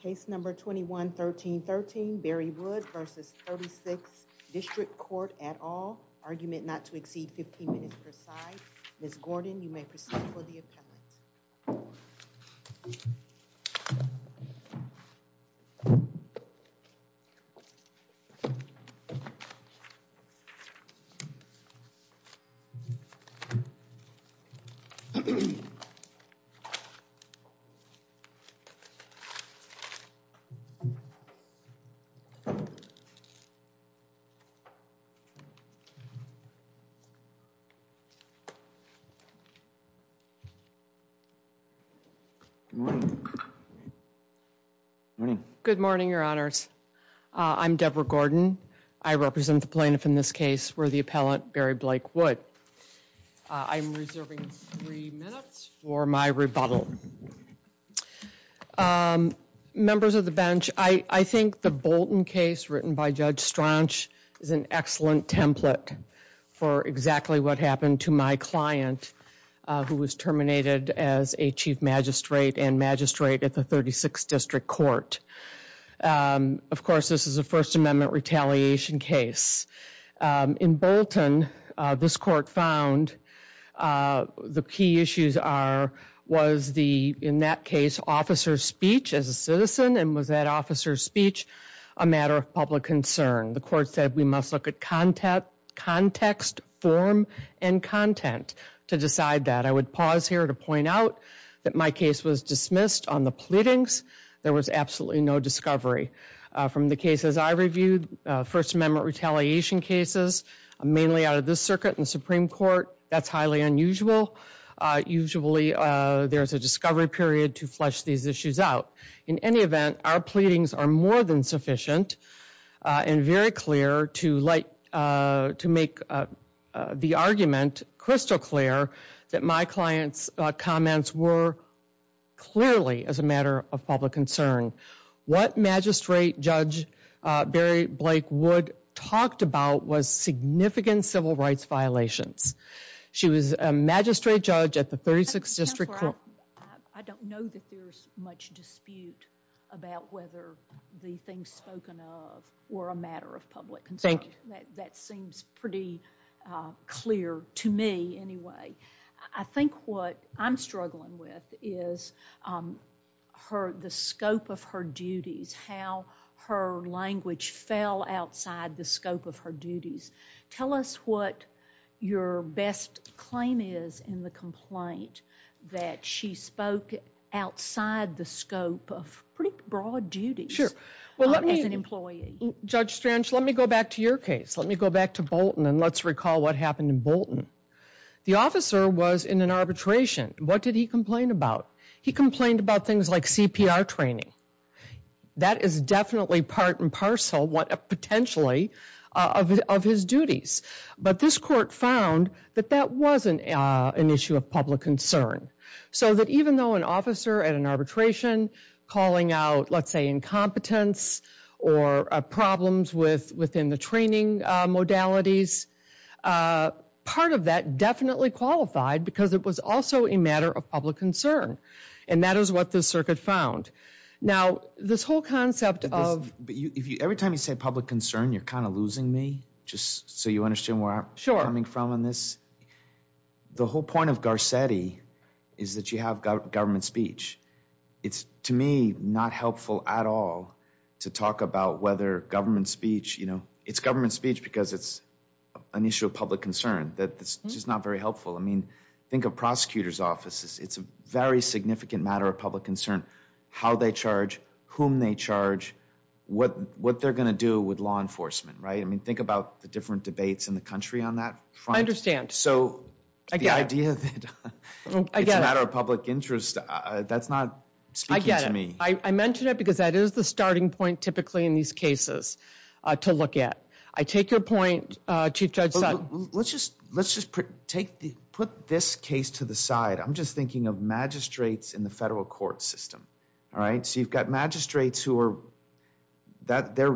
Case number 21-13-13, Bari Wood v. 36th District Court at all. Argument not to exceed 15 minutes per side. Ms. Gordon, you may proceed for the appellant. Good morning, Your Honors. I'm Deborah Gordon. I represent the plaintiff in this case, worthy appellant Bari Blake Wood. I'm reserving three minutes for my rebuttal. Members of the bench, I think the Bolton case written by Judge Straunch is an excellent template for exactly what happened to my client, who was terminated as a chief magistrate and magistrate at the 36th District Court. Of course, this is a First Amendment retaliation case. In Bolton, this court found the key issues are, was the, in that case, officer's speech as a citizen, and was that officer's speech a matter of public concern? The court said we must look at context, form, and content to decide that. I would pause here to point out that my case was dismissed on the pleadings. There was absolutely no discovery. From the cases I reviewed, First Amendment retaliation cases, mainly out of this circuit and Supreme Court, that's highly unusual. Usually, there's a discovery period to flesh these issues out. In any event, our pleadings are more than sufficient and very clear to make the argument crystal clear that my client's comments were clearly as a matter of public concern. What Magistrate Judge Barry Blake Wood talked about was significant civil rights violations. She was a magistrate judge at the 36th District Court. I don't know that there's much dispute about whether the things spoken of were a matter of public concern. Thank you. That seems pretty clear to me, anyway. I think what I'm struggling with is the scope of her duties, how her language fell outside the scope of her duties. Tell us what your best claim is in the complaint that she spoke outside the scope of pretty broad duties as an employee. Judge Strange, let me go back to your case. Let me go back to Bolton and let's recall what happened in Bolton. The officer was in an arbitration. What did he complain about? He complained about things like CPR training. That is definitely part and parcel, potentially, of his duties. This court found that that wasn't an issue of public concern. Even though an officer at an arbitration calling out, let's say, incompetence or problems within the training modalities, part of that definitely qualified because it was also a matter of public concern. That is what the circuit found. This whole concept of... Every time you say public concern, you're kind of losing me, just so you understand where I'm coming from on this. The whole point of Garcetti is that you have government speech. It's, to me, not helpful at all to talk about whether government speech... It's government speech because it's an issue of public concern that's just not very helpful. Think of prosecutor's offices. It's a very significant matter of public concern, how they charge, whom they charge, what they're going to do with law enforcement. Think about the different debates in the country on that front. I understand. I get it. It's a matter of public interest. That's not speaking to me. I get it. I mentioned it because that is the starting point, typically, in these cases to look at. I take your point, Chief Judge Sutton. Let's just put this case to the side. I'm just thinking of magistrates in the federal court system. You've got magistrates who are... Their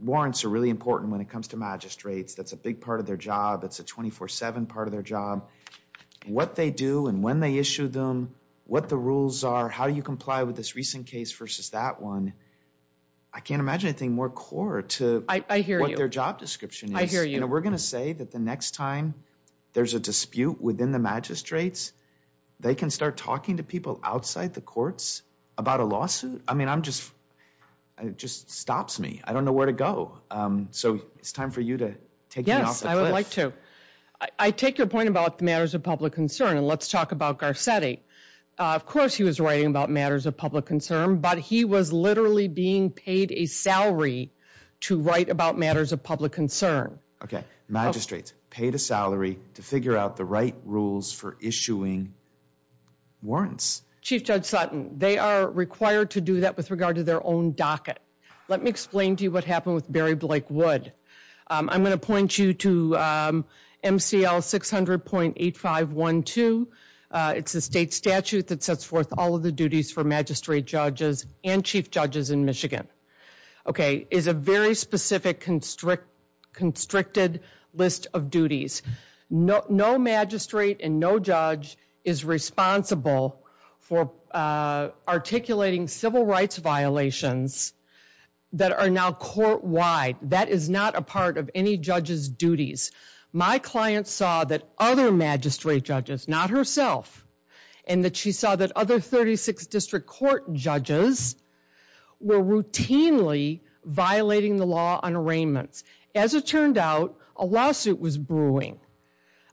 warrants are really important when it comes to magistrates. That's a big part of their job. It's a 24-7 part of their job. What they do and when they issue them, what the rules are, how do you comply with this recent case versus that one, I can't imagine anything more core to what their job description is. I hear you. I hear you. We're going to say that the next time there's a dispute within the magistrates, they can start talking to people outside the courts about a lawsuit? It just stops me. It's time for you to take me off the cliff. I would like to. I take your point about the matters of public concern. Let's talk about Garcetti. Of course he was writing about matters of public concern, but he was literally being paid a salary to write about matters of public concern. Magistrates paid a salary to figure out the right rules for issuing warrants. Chief Judge Sutton, they are required to do that with regard to their own docket. Let me explain to you what happened with Barry Blake Wood. I'm going to point you to MCL 600.8512. It's a state statute that sets forth all of the duties for magistrate judges and chief judges in Michigan. It's a very specific, constricted list of duties. No magistrate and no judge is responsible for articulating civil rights violations that are now court-wide. That is not a part of any judge's duties. My client saw that other magistrate judges, not herself, and that she saw that other 36 district court judges were routinely violating the law on arraignments. As it turned out, a lawsuit was brewing.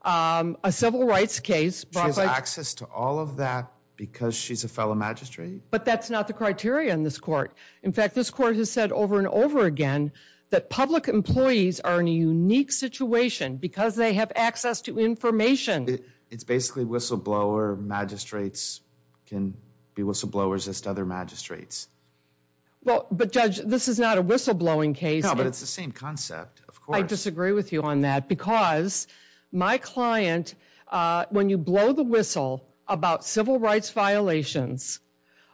A civil rights case brought by- She has access to all of that because she's a fellow magistrate? But that's not the criteria in this court. In fact, this court has said over and over again that public employees are in a unique situation because they have access to information. It's basically whistleblower magistrates can be whistleblowers as to other magistrates. But Judge, this is not a whistleblowing case. No, but it's the same concept. Of course. I disagree with you on that because my client, when you blow the whistle about civil rights violations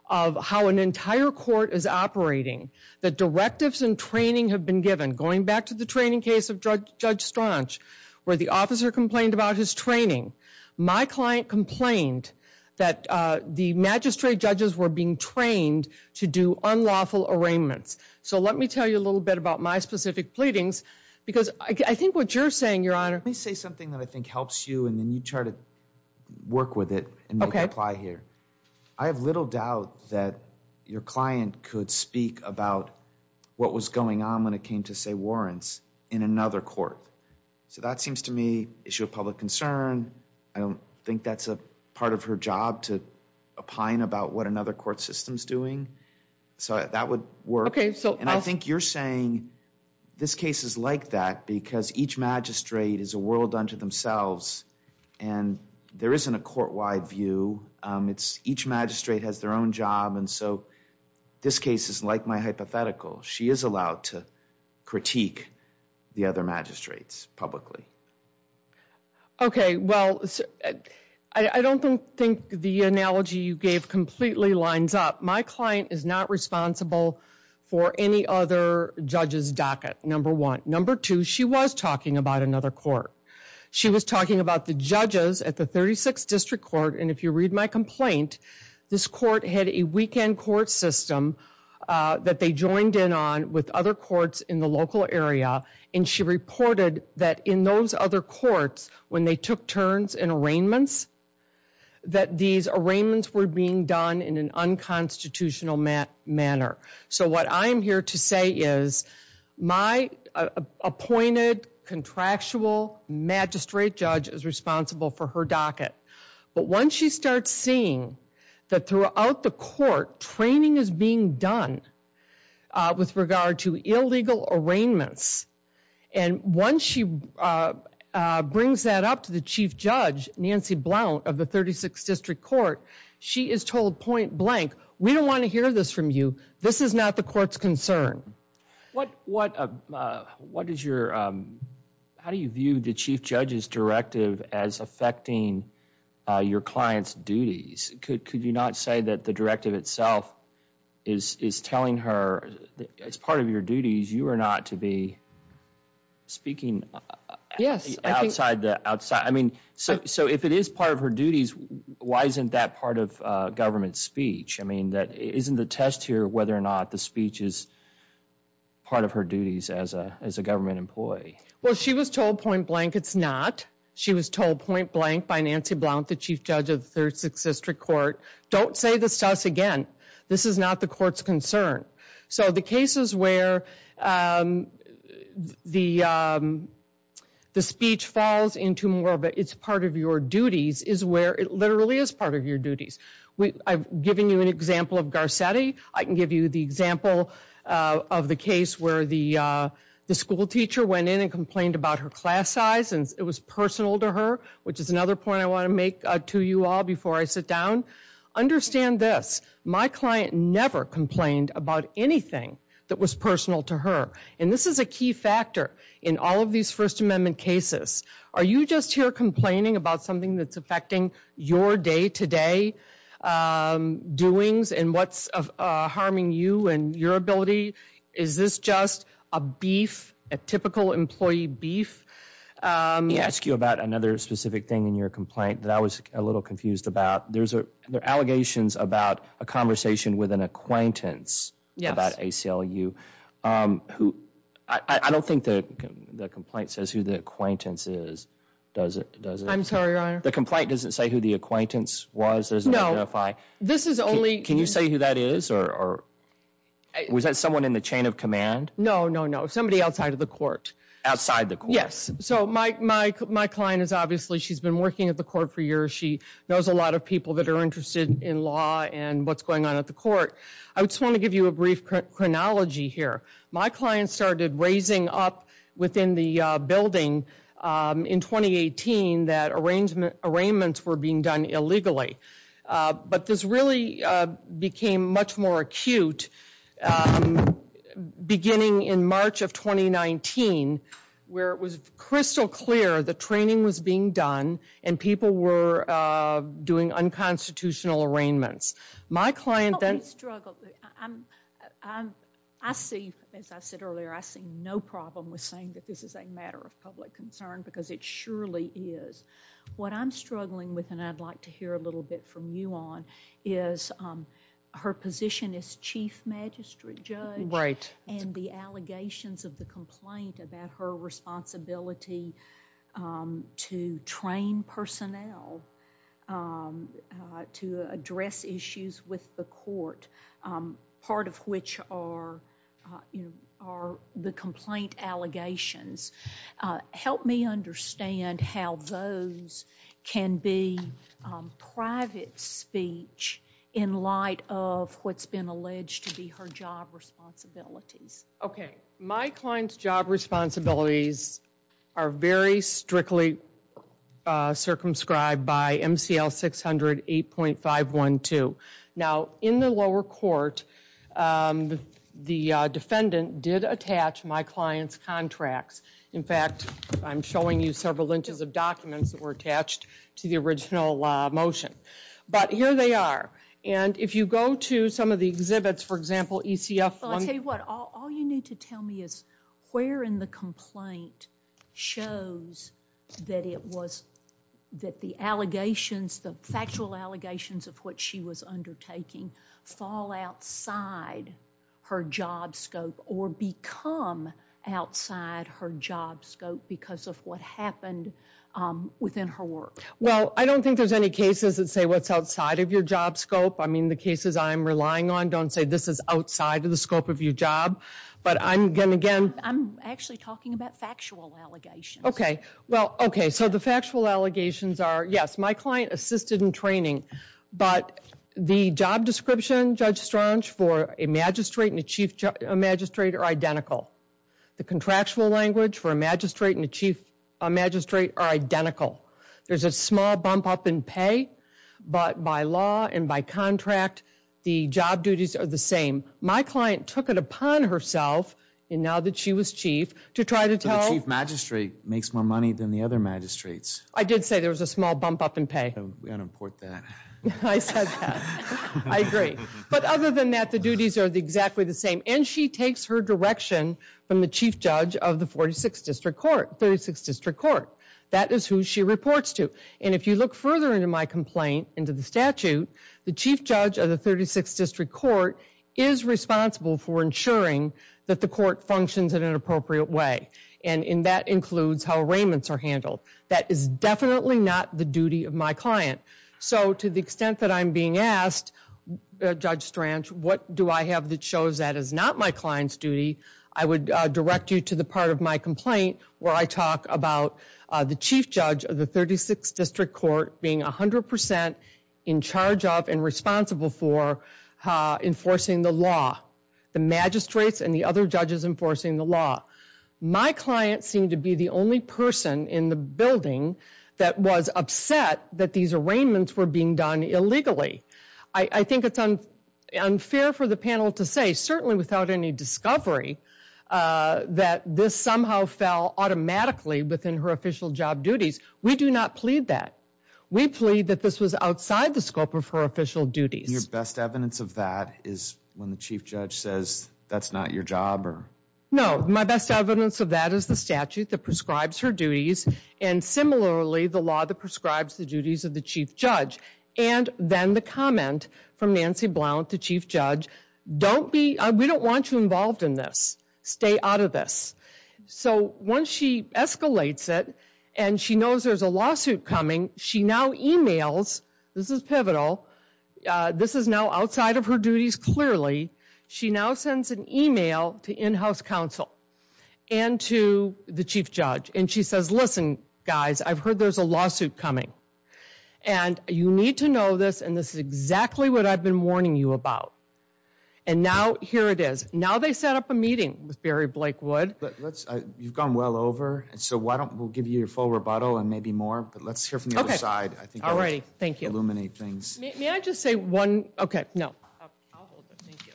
of how an entire court is operating, the directives and training have been given. Going back to the training case of Judge Straunch, where the officer complained about his training, my client complained that the magistrate judges were being trained to do unlawful arraignments. Let me tell you a little bit about my specific pleadings because I think what you're saying, Your Honor- Let me say something that I think helps you and then you try to work with it and make it apply here. Okay. I have little doubt that your client could speak about what was going on when it came to say warrants in another court. So that seems to me issue of public concern. I don't think that's a part of her job to opine about what another court system's doing. So that would work. Okay. And I think you're saying this case is like that because each magistrate is a world unto themselves and there isn't a court-wide view. Each magistrate has their own job and so this case is like my hypothetical. She is allowed to critique the other magistrates publicly. Okay. Well, I don't think the analogy you gave completely lines up. My client is not responsible for any other judge's docket, number one. Number two, she was talking about another court. She was talking about the judges at the 36th District Court and if you read my complaint, this court had a weekend court system that they joined in on with other courts in the local area and she reported that in those other courts, when they took turns in arraignments, that these arraignments were being done in an unconstitutional manner. So what I'm here to say is my appointed contractual magistrate judge is responsible for her docket. But once she starts seeing that throughout the court, training is being done with regard to illegal arraignments and once she brings that up to the chief judge, Nancy Blount, of the 36th District Court, she is told point blank, we don't want to hear this from you. This is not the court's concern. How do you view the chief judge's directive as affecting your client's duties? Could you not say that the directive itself is telling her, as part of your duties, you are not to be speaking outside the, I mean, so if it is part of her duties, why isn't that part of government speech? I mean, isn't the test here whether or not the speech is part of her duties as a government employee? Well, she was told point blank, it's not. She was told point blank by Nancy Blount, the chief judge of the 36th District Court, don't say this to us again. This is not the court's concern. So the cases where the speech falls into more of a, it's part of your duties, is where it literally is part of your duties. I've given you an example of Garcetti. I can give you the example of the case where the school teacher went in and complained about her class size and it was personal to her, which is another point I want to make to you all before I sit down. Understand this. My client never complained about anything that was personal to her, and this is a key factor in all of these First Amendment cases. Are you just here complaining about something that's affecting your day-to-day doings and what's harming you and your ability? Is this just a beef, a typical employee beef? Let me ask you about another specific thing in your complaint that I was a little confused about. There are allegations about a conversation with an acquaintance about ACLU. I don't think the complaint says who the acquaintance is, does it? I'm sorry, your honor? The complaint doesn't say who the acquaintance was? No. This is only... Can you say who that is? Was that someone in the chain of command? No, no, no. Somebody outside of the court. Outside the court? Yes. My client is obviously... She's been working at the court for years. She knows a lot of people that are interested in law and what's going on at the court. I just want to give you a brief chronology here. My client started raising up within the building in 2018 that arraignments were being done illegally. But this really became much more acute beginning in March of 2019 where it was crystal clear the training was being done and people were doing unconstitutional arraignments. My client then... I see, as I said earlier, I see no problem with saying that this is a matter of public concern because it surely is. What I'm struggling with, and I'd like to hear a little bit from you on, is her position as chief magistrate judge and the allegations of the complaint about her responsibility to train personnel to address issues with the court, part of which are the complaint allegations. Help me understand how those can be private speech in light of what's been alleged to be her job responsibilities. Okay. My client's job responsibilities are very strictly circumscribed by MCL 600 8.512. Now, in the lower court, the defendant did attach my client's contracts. In fact, I'm showing you several inches of documents that were attached to the original motion. But here they are. And if you go to some of the exhibits, for example, ECF... Well, I'll tell you what. All you need to tell me is where in the complaint shows that the allegations, the factual allegations of what she was undertaking, fall outside her job scope or become outside her job scope because of what happened within her work. Well, I don't think there's any cases that say what's outside of your job scope. I mean, the cases I'm relying on don't say this is outside of the scope of your job. But I'm going to again... I'm actually talking about factual allegations. Okay. Well, okay. So the factual allegations are, yes, my client assisted in training. But the job description, Judge Strong, for a magistrate and a chief magistrate are identical. The contractual language for a magistrate and a chief magistrate are identical. There's a small bump up in pay. But by law and by contract, the job duties are the same. My client took it upon herself, and now that she was chief, to try to tell... So the chief magistrate makes more money than the other magistrates. I did say there was a small bump up in pay. We ought to import that. I said that. I agree. But other than that, the duties are exactly the same. And she takes her direction from the chief judge of the 36th District Court. That is who she reports to. And if you look further into my complaint, into the statute, the chief judge of the 36th And that includes how arraignments are handled. That is definitely not the duty of my client. So to the extent that I'm being asked, Judge Strang, what do I have that shows that is not my client's duty, I would direct you to the part of my complaint where I talk about the chief judge of the 36th District Court being 100 percent in charge of and responsible for enforcing the law. The magistrates and the other judges enforcing the law. My client seemed to be the only person in the building that was upset that these arraignments were being done illegally. I think it's unfair for the panel to say, certainly without any discovery, that this somehow fell automatically within her official job duties. We do not plead that. We plead that this was outside the scope of her official duties. And your best evidence of that is when the chief judge says, that's not your job? No. My best evidence of that is the statute that prescribes her duties. And similarly, the law that prescribes the duties of the chief judge. And then the comment from Nancy Blount, the chief judge, don't be, we don't want you involved in this. Stay out of this. So once she escalates it, and she knows there's a lawsuit coming, she now emails, this is now outside of her duties clearly, she now sends an email to in-house counsel and to the chief judge. And she says, listen, guys, I've heard there's a lawsuit coming. And you need to know this, and this is exactly what I've been warning you about. And now, here it is. Now they set up a meeting with Barry Blakewood. You've gone well over, so we'll give you your full rebuttal and maybe more, but let's hear I think I want to illuminate things. All right. Thank you. May I just say one? Okay. No. I'll hold it. Thank you.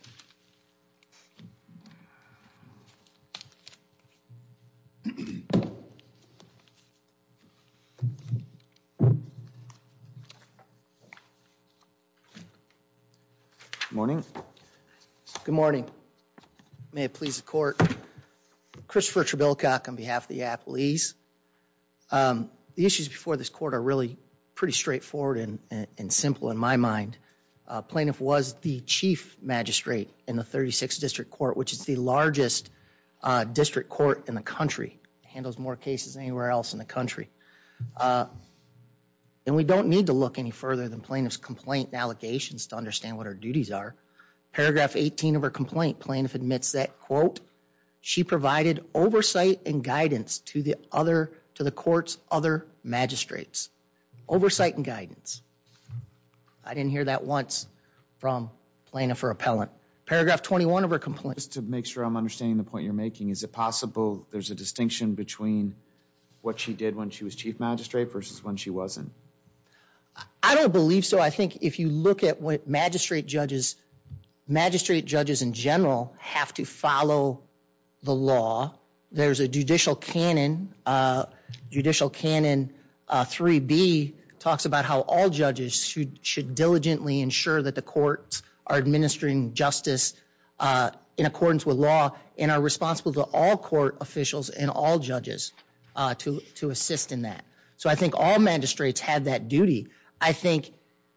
Good morning. Good morning. May it please the court. Christopher Trebilcock on behalf of the Appalese. The issues before this court are really pretty straightforward and simple in my opinion. Plaintiff was the chief magistrate in the 36th District Court, which is the largest district court in the country, handles more cases anywhere else in the country. And we don't need to look any further than plaintiff's complaint and allegations to understand what her duties are. Paragraph 18 of her complaint, plaintiff admits that, quote, she provided oversight and guidance to the other, to the court's other magistrates. Oversight and guidance. I didn't hear that once from plaintiff or appellant. Paragraph 21 of her complaint. Just to make sure I'm understanding the point you're making, is it possible there's a distinction between what she did when she was chief magistrate versus when she wasn't? I don't believe so. I think if you look at what magistrate judges, magistrate judges in general have to follow the law. There's a judicial canon, judicial canon 3B talks about how all judges should diligently ensure that the courts are administering justice in accordance with law and are responsible to all court officials and all judges to assist in that. So I think all magistrates had that duty. I think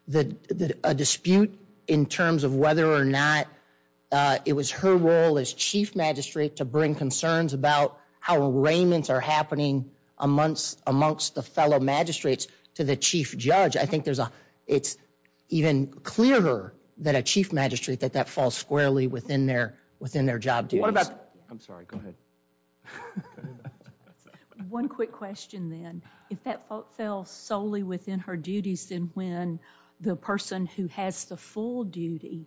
that a dispute in terms of whether or not it was her role as chief magistrate to bring concerns about how arraignments are happening amongst the fellow magistrates to the chief judge, I think it's even clearer that a chief magistrate, that that falls squarely within their job duties. I'm sorry, go ahead. One quick question then. If that fell solely within her duties, then when the person who has the full duty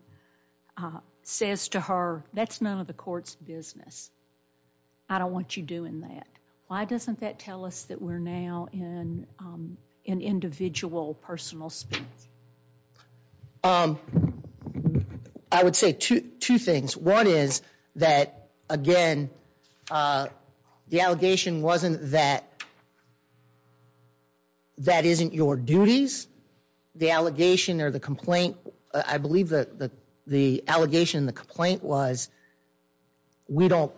says to her, that's none of the court's business, I don't want you doing that, why doesn't that tell us that we're now in an individual personal space? I would say two things. One is that, again, the allegation wasn't that that isn't your duties. The allegation or the complaint, I believe that the allegation and the complaint was, we don't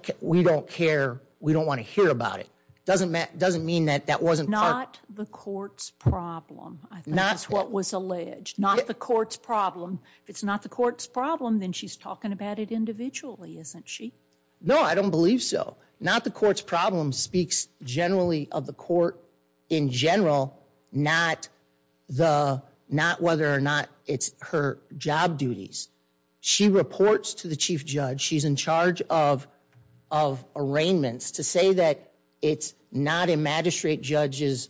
care, we don't want to hear about it. Doesn't mean that that wasn't part of... Not the court's problem, I think is what was alleged. Not the court's problem. If it's not the court's problem, then she's talking about it individually, isn't she? No, I don't believe so. Not the court's problem speaks generally of the court in general, not whether or not it's her job duties. She reports to the chief judge, she's in charge of arraignments, to say that it's not a magistrate judge's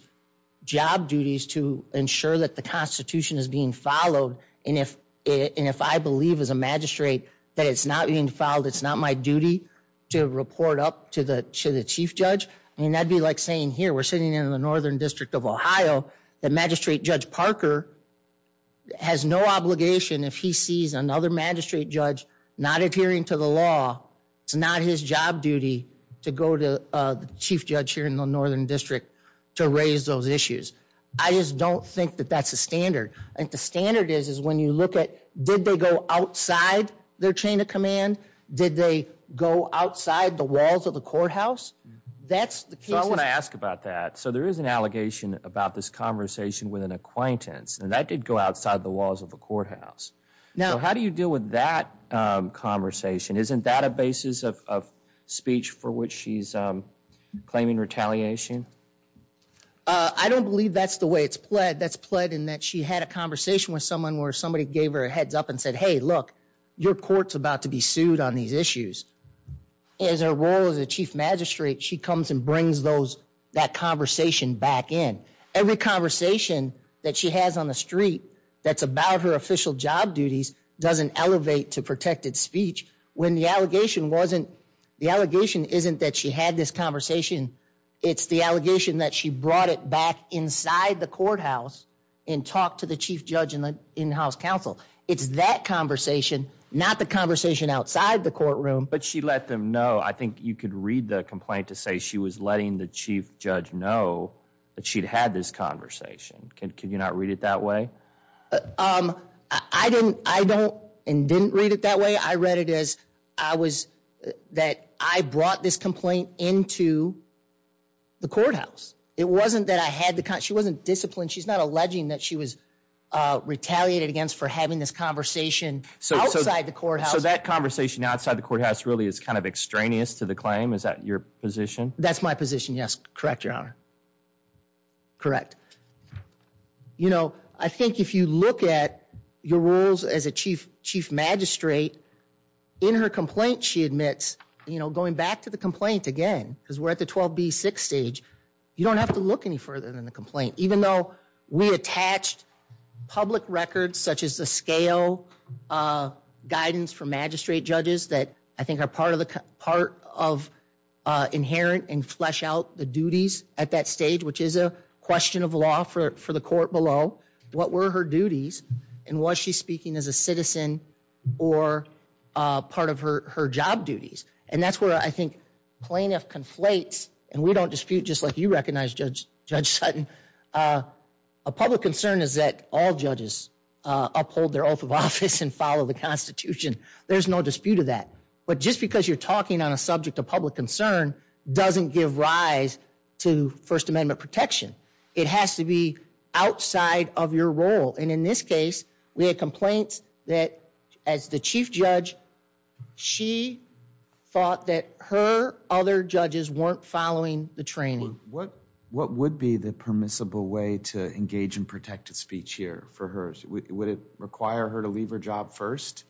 job duties to ensure that the constitution is being followed, and if I believe as a magistrate that it's not being followed, it's not my duty to report up to the chief judge. And that'd be like saying, here, we're sitting in the Northern District of Ohio, the magistrate judge Parker has no obligation if he sees another magistrate judge not adhering to the law, it's not his job duty to go to the chief judge here in the Northern District to raise those issues. I just don't think that that's a standard. The standard is when you look at, did they go outside their chain of command? Did they go outside the walls of the courthouse? That's the case. I want to ask about that. So there is an allegation about this conversation with an acquaintance, and that did go outside the walls of the courthouse. How do you deal with that conversation? Isn't that a basis of speech for which she's claiming retaliation? I don't believe that's the way it's pled. That's pled in that she had a conversation with someone where somebody gave her a heads up and said, hey, look, your court's about to be sued on these issues. As her role as a chief magistrate, she comes and brings that conversation back in. Every conversation that she has on the street that's about her official job duties doesn't elevate to protected speech. When the allegation wasn't, the allegation isn't that she had this conversation, it's the allegation that she brought it back inside the courthouse and talked to the chief judge and the in-house counsel. It's that conversation, not the conversation outside the courtroom. But she let them know, I think you could read the complaint to say she was letting the chief judge know that she'd had this conversation. Can you not read it that way? I didn't. I don't and didn't read it that way. I read it as I was, that I brought this complaint into the courthouse. It wasn't that I had the, she wasn't disciplined. She's not alleging that she was retaliated against for having this conversation outside the courthouse. So that conversation outside the courthouse really is kind of extraneous to the claim? Is that your position? That's my position, yes. Correct, your honor. Correct. You know, I think if you look at your rules as a chief magistrate, in her complaint she admits, you know, going back to the complaint again, because we're at the 12B6 stage, you don't have to look any further than the complaint. Even though we attached public records such as the scale guidance for magistrate judges that I think are part of inherent and flesh out the duties at that stage, which is a question of law for the court below, what were her duties, and was she speaking as a citizen or part of her job duties? And that's where I think plaintiff conflates, and we don't dispute just like you recognize Judge Sutton, a public concern is that all judges uphold their oath of office and follow the Constitution. There's no dispute of that. But just because you're talking on a subject of public concern doesn't give rise to First Amendment protection. It has to be outside of your role. And in this case, we had complaints that as the chief judge, she thought that her other judges weren't following the training. What would be the permissible way to engage in protected speech here for her? Would it require her to leave her job first?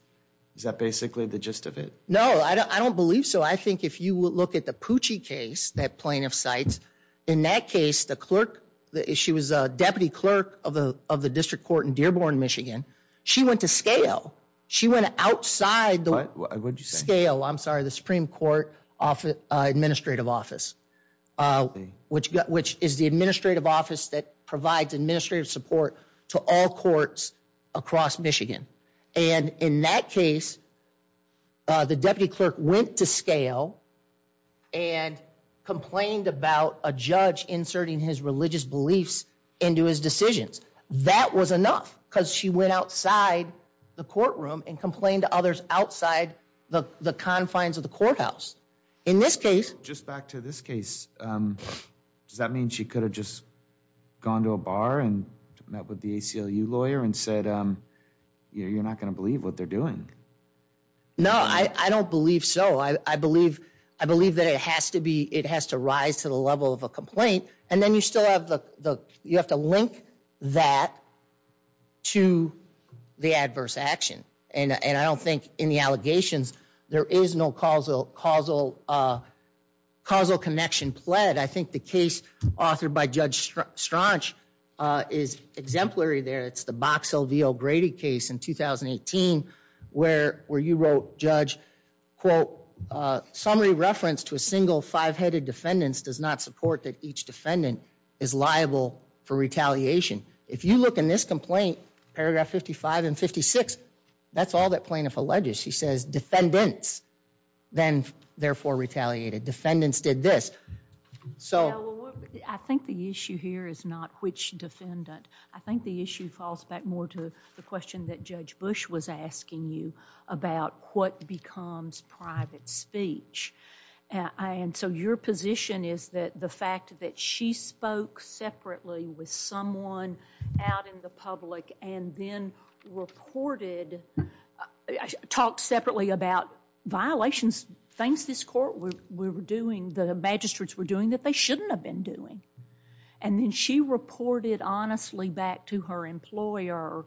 Is that basically the gist of it? No, I don't believe so. I think if you look at the Pucci case that plaintiff cites, in that case, the clerk, she was a deputy clerk of the district court in Dearborn, Michigan. She went to scale. She went outside the scale, I'm sorry, the Supreme Court administrative office, which is the administrative office that provides administrative support to all courts across Michigan. And in that case, the deputy clerk went to scale and complained about a judge inserting his religious beliefs into his decisions. That was enough because she went outside the courtroom and complained to others outside the confines of the courthouse. In this case... Just back to this case, does that mean she could have just gone to a bar and met with the ACLU lawyer and said, you're not going to believe what they're doing? No, I don't believe so. I believe that it has to rise to the level of a complaint. And then you still have to link that to the adverse action. And I don't think in the allegations, there is no causal connection pled. I think the case authored by Judge Strach is exemplary there. It's the Box LVO Grady case in 2018 where you wrote, Judge, quote, summary reference to a single five-headed defendants does not support that each defendant is liable for retaliation. If you look in this complaint, paragraph 55 and 56, that's all that plaintiff alleges. She says defendants then therefore retaliated. Defendants did this. I think the issue here is not which defendant. I think the issue falls back more to the question that Judge Bush was asking you about what becomes private speech. And so your position is that the fact that she spoke separately with someone out in the magistrates were doing that they shouldn't have been doing. And then she reported honestly back to her employer,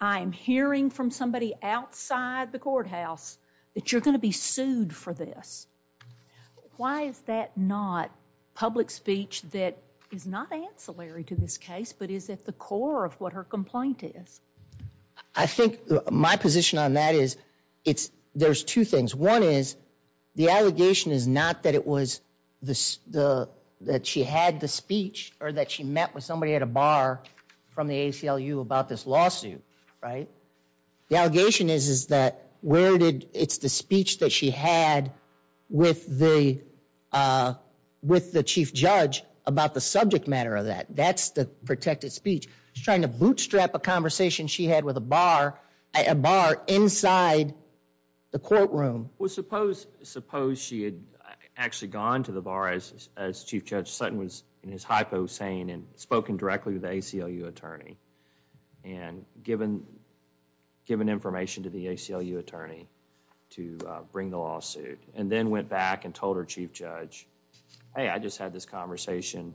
I'm hearing from somebody outside the courthouse that you're going to be sued for this. Why is that not public speech that is not ancillary to this case but is at the core of what her complaint is? I think my position on that is there's two things. One is the allegation is not that it was that she had the speech or that she met with somebody at a bar from the ACLU about this lawsuit, right? The allegation is that it's the speech that she had with the chief judge about the subject matter of that. That's the protected speech. She's trying to bootstrap a conversation she had with a bar inside the courtroom. Well, suppose she had actually gone to the bar as Chief Judge Sutton was in his hypo saying and spoken directly with the ACLU attorney and given information to the ACLU attorney to bring the lawsuit and then went back and told her chief judge, hey, I just had this conversation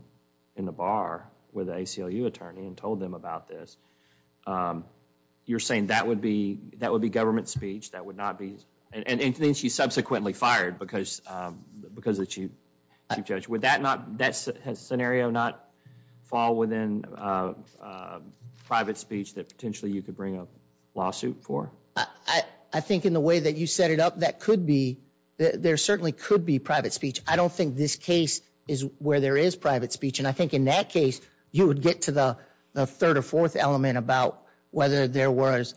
in the bar with the ACLU attorney and told them about this. You're saying that would be government speech. That would not be, and she's subsequently fired because of the chief judge. Would that scenario not fall within private speech that potentially you could bring a lawsuit for? I think in the way that you set it up, that could be. There certainly could be private speech. I don't think this case is where there is private speech. I think in that case, you would get to the third or fourth element about whether there was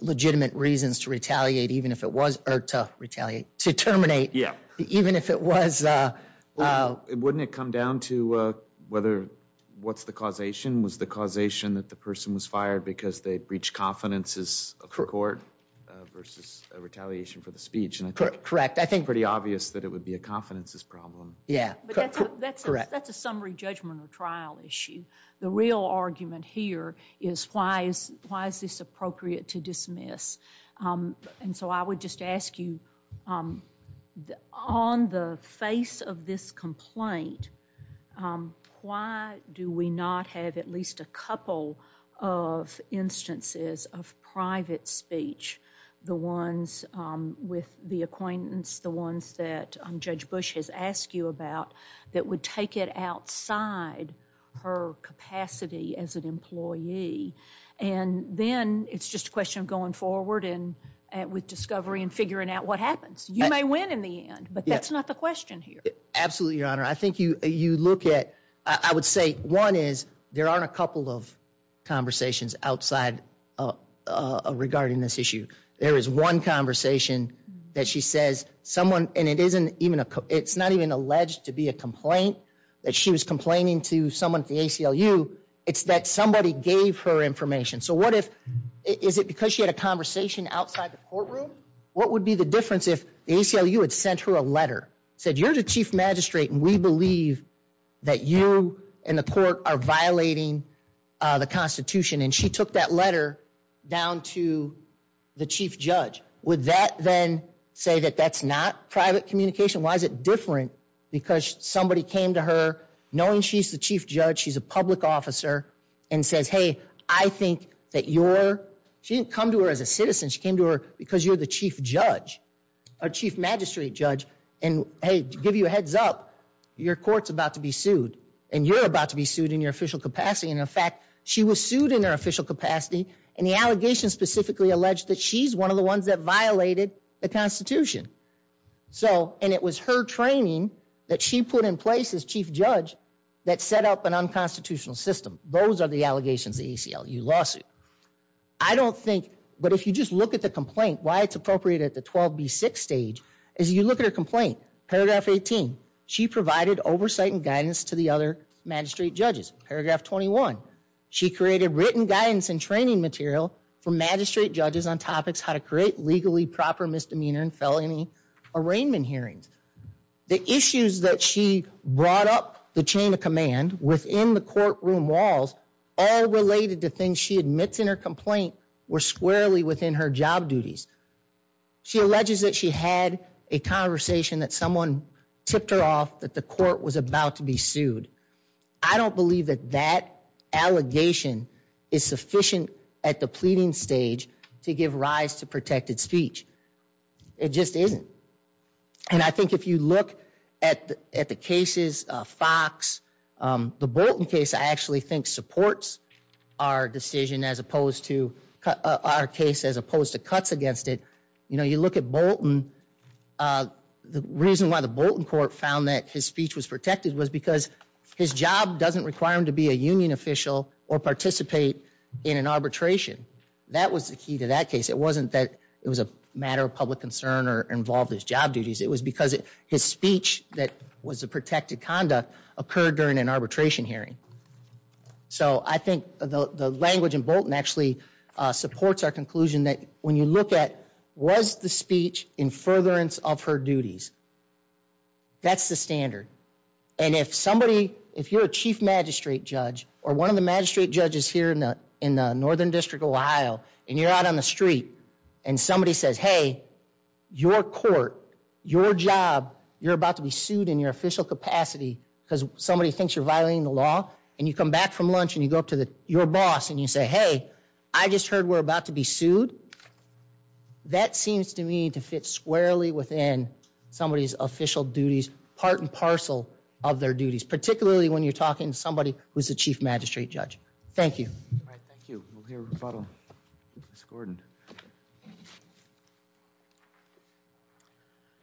legitimate reasons to retaliate even if it was, or to terminate even if it was. Wouldn't it come down to whether, what's the causation? Was the causation that the person was fired because they breached confidences of the court versus a retaliation for the speech? Correct. In fact, I think it's pretty obvious that it would be a confidences problem. Yeah. Correct. That's a summary judgment or trial issue. The real argument here is why is this appropriate to dismiss? I would just ask you, on the face of this complaint, why do we not have at least a couple of instances of private speech? The ones with the acquaintance, the ones that Judge Bush has asked you about, that would take it outside her capacity as an employee. And then, it's just a question of going forward with discovery and figuring out what happens. You may win in the end, but that's not the question here. Absolutely, Your Honor. I think you look at, I would say one is there aren't a couple of conversations outside regarding this issue. There is one conversation that she says someone, and it's not even alleged to be a complaint that she was complaining to someone at the ACLU, it's that somebody gave her information. So what if, is it because she had a conversation outside the courtroom? What would be the difference if the ACLU had sent her a letter, said you're the chief magistrate and we believe that you and the court are violating the Constitution, and she took that letter down to the chief judge. Would that then say that that's not private communication? Why is it different because somebody came to her, knowing she's the chief judge, she's a public officer, and says, hey, I think that you're, she didn't come to her as a citizen, she came to her because you're the chief judge, or chief magistrate judge, and hey, to give you a heads up, your court's about to be sued, and you're about to be sued in your official capacity, and in fact, she was sued in her official capacity, and the allegation specifically alleged that she's one of the ones that violated the Constitution, so, and it was her training that she put in place as chief judge that set up an unconstitutional system. Those are the allegations of the ACLU lawsuit. I don't think, but if you just look at the complaint, why it's appropriate at the 12b6 stage, is you look at her complaint, paragraph 18, she provided oversight and guidance to the other magistrate judges. Paragraph 21, she created written guidance and training material for magistrate judges on topics, how to create legally proper misdemeanor and felony arraignment hearings. The issues that she brought up, the chain of command, within the courtroom walls, all related to things she admits in her complaint, were squarely within her job duties. She alleges that she had a conversation that someone tipped her off, that the court was about to be sued. I don't believe that that allegation is sufficient at the pleading stage to give rise to protected speech. It just isn't, and I think if you look at the cases, Fox, the Bolton case, I actually think supports our decision as opposed to, our case as opposed to cuts against it. You look at Bolton, the reason why the Bolton court found that his speech was protected was because his job doesn't require him to be a union official or participate in an arbitration. That was the key to that case. It wasn't that it was a matter of public concern or involved his job duties. It was because his speech that was a protected conduct occurred during an arbitration hearing. I think the language in Bolton actually supports our conclusion that when you look at was the speech in furtherance of her duties, that's the standard. If you're a chief magistrate judge or one of the magistrate judges here in the Northern District of Ohio and you're out on the street and somebody says, hey, your court, your job, you're about to be sued in your official capacity because somebody thinks you're violating the law and you come back from lunch and you go up to your boss and you say, hey, I just heard we're about to be sued, that seems to me to fit squarely within somebody's official duties, part and parcel of their duties, particularly when you're talking to somebody who's a chief magistrate judge. Thank you. All right. Thank you. We'll hear a rebuttal. Ms. Gordon.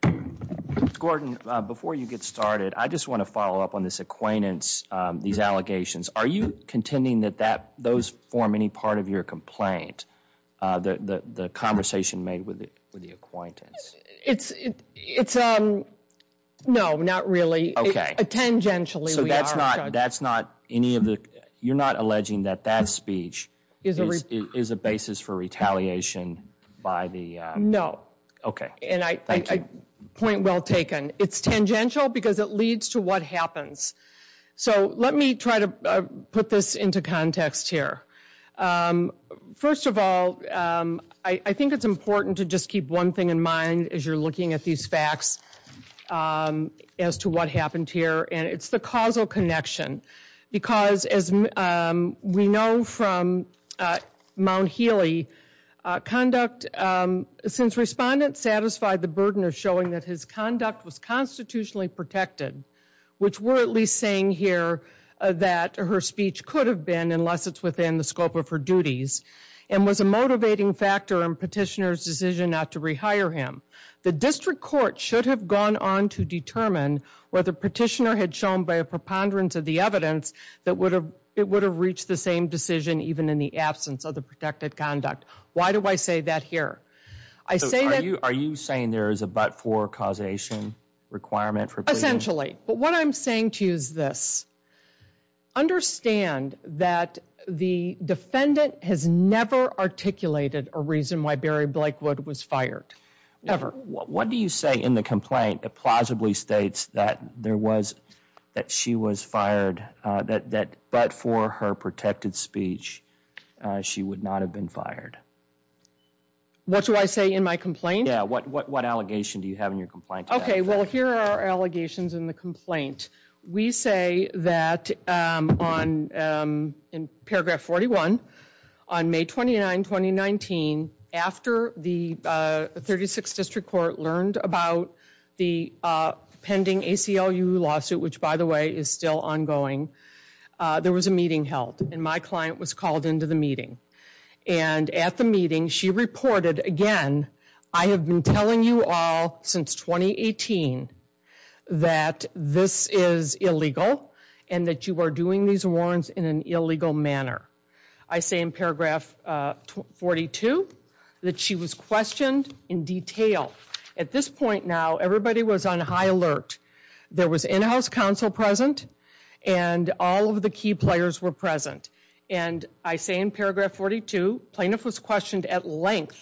Ms. Gordon, before you get started, I just want to follow up on this acquaintance, these allegations. Are you contending that those form any part of your complaint, the conversation made with the acquaintance? It's, no, not really. Okay. Tangentially. So that's not any of the, you're not alleging that that speech is a basis for retaliation by the- No. Okay. Thank you. Point well taken. It's tangential because it leads to what happens. So let me try to put this into context here. First of all, I think it's important to just keep one thing in mind as you're looking at these facts as to what happened here, and it's the causal connection. Because as we know from Mount Healy, conduct, since respondents satisfied the burden of showing that his conduct was constitutionally protected, which we're at least saying here that her speech could have been unless it's within the scope of her duties, and was a motivating factor in petitioner's decision not to rehire him. The district court should have gone on to determine whether petitioner had shown by a preponderance of the evidence that it would have reached the same decision even in the absence of the protected conduct. Why do I say that here? I say that- So are you saying there is a but-for causation requirement for pleading? Essentially. But what I'm saying to you is this. Understand that the defendant has never articulated a reason why Barry Blakewood was fired. Ever. What do you say in the complaint that plausibly states that she was fired, that but for her protected speech, she would not have been fired? What do I say in my complaint? Yeah, what allegation do you have in your complaint? Okay, well here are our allegations in the complaint. We say that in paragraph 41, on May 29, 2019, after the 36th District Court learned about the pending ACLU lawsuit, which by the way is still ongoing, there was a meeting held and my client was called into the meeting. And at the meeting, she reported again, I have been telling you all since 2018 that this is illegal and that you are doing these warrants in an illegal manner. I say in paragraph 42 that she was questioned in detail. At this point now, everybody was on high alert. There was in-house counsel present and all of the key players were present. And I say in paragraph 42, plaintiff was questioned at length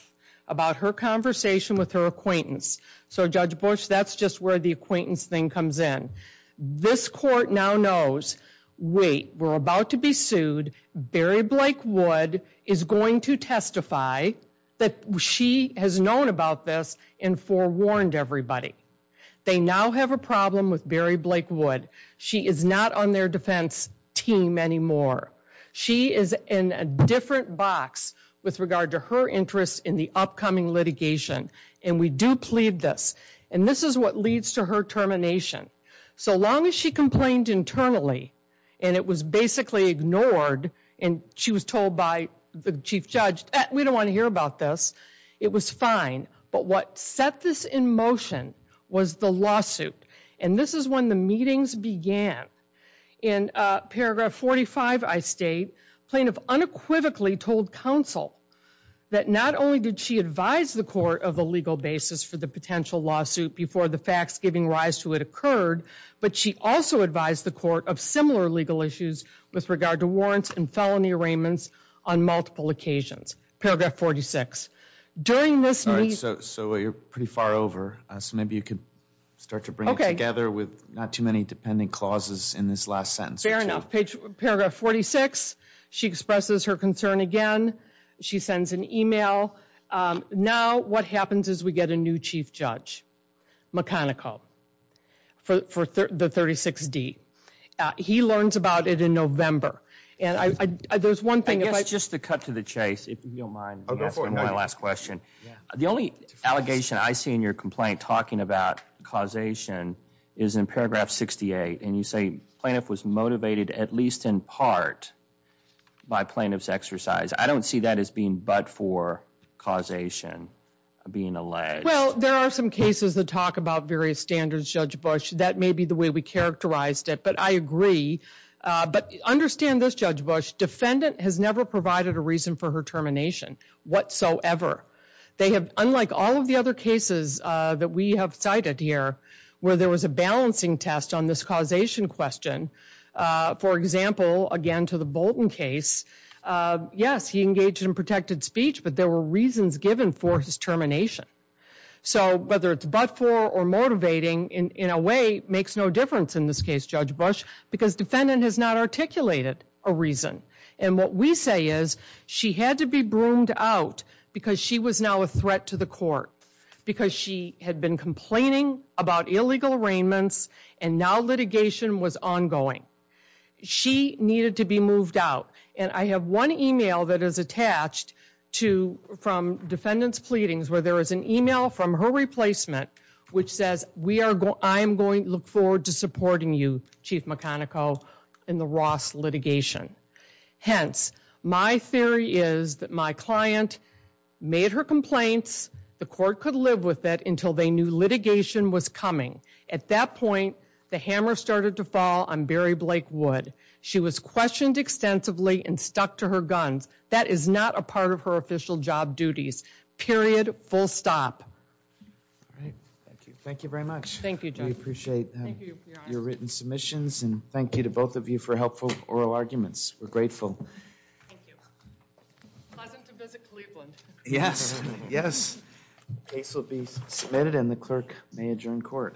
about her conversation with her acquaintance. So Judge Bush, that's just where the acquaintance thing comes in. This court now knows, wait, we're about to be sued, Barry Blakewood is going to testify that she has known about this and forewarned everybody. They now have a problem with Barry Blakewood. She is not on their defense team anymore. She is in a different box with regard to her interest in the upcoming litigation. And we do plead this. And this is what leads to her termination. So long as she complained internally and it was basically ignored and she was told by the Chief Judge, we don't want to hear about this, it was fine. But what set this in motion was the lawsuit. And this is when the meetings began. In paragraph 45, I state, plaintiff unequivocally told counsel that not only did she advise the court of a legal basis for the potential lawsuit before the facts giving rise to it occurred, but she also advised the court of similar legal issues with regard to warrants and felony arraignments on multiple occasions. Paragraph 46. During this meeting. So you're pretty far over. So maybe you could start to bring it together with not too many dependent clauses in this last sentence. Fair enough. Paragraph 46. She expresses her concern again. She sends an email. Now what happens is we get a new Chief Judge, McConnickle, for the 36D. He learns about it in November. And there's one thing. I guess just to cut to the chase, if you don't mind, my last question. The only allegation I see in your complaint talking about causation is in paragraph 68. And you say plaintiff was motivated at least in part by plaintiff's exercise. I don't see that as being but for causation. Being alleged. Well, there are some cases that talk about various standards, Judge Bush. That may be the way we characterized it. But I agree. But understand this, Judge Bush, defendant has never provided a reason for her termination whatsoever. They have, unlike all of the other cases that we have cited here, where there was a balancing test on this causation question, for example, again to the Bolton case, yes, he engaged in protected speech, but there were reasons given for his termination. So whether it's but for or motivating, in a way, makes no difference in this case, Judge Bush, because defendant has not articulated a reason. And what we say is, she had to be broomed out because she was now a threat to the court. Because she had been complaining about illegal arraignments, and now litigation was ongoing. She needed to be moved out. And I have one email that is attached to, from defendant's pleadings, where there is an email from her replacement, which says, I am going to look forward to supporting you, in the Ross litigation. Hence, my theory is that my client made her complaints, the court could live with that until they knew litigation was coming. At that point, the hammer started to fall on Barry Blake Wood. She was questioned extensively and stuck to her guns. That is not a part of her official job duties. Period. Full stop. All right. Thank you. Thank you very much. Thank you, Judge. We appreciate your written submissions. And thank you to both of you for helpful oral arguments. We're grateful. Thank you. Pleasant to visit Cleveland. Yes. Yes. The case will be submitted, and the clerk may adjourn court.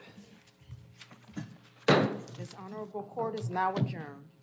This honorable court is now adjourned.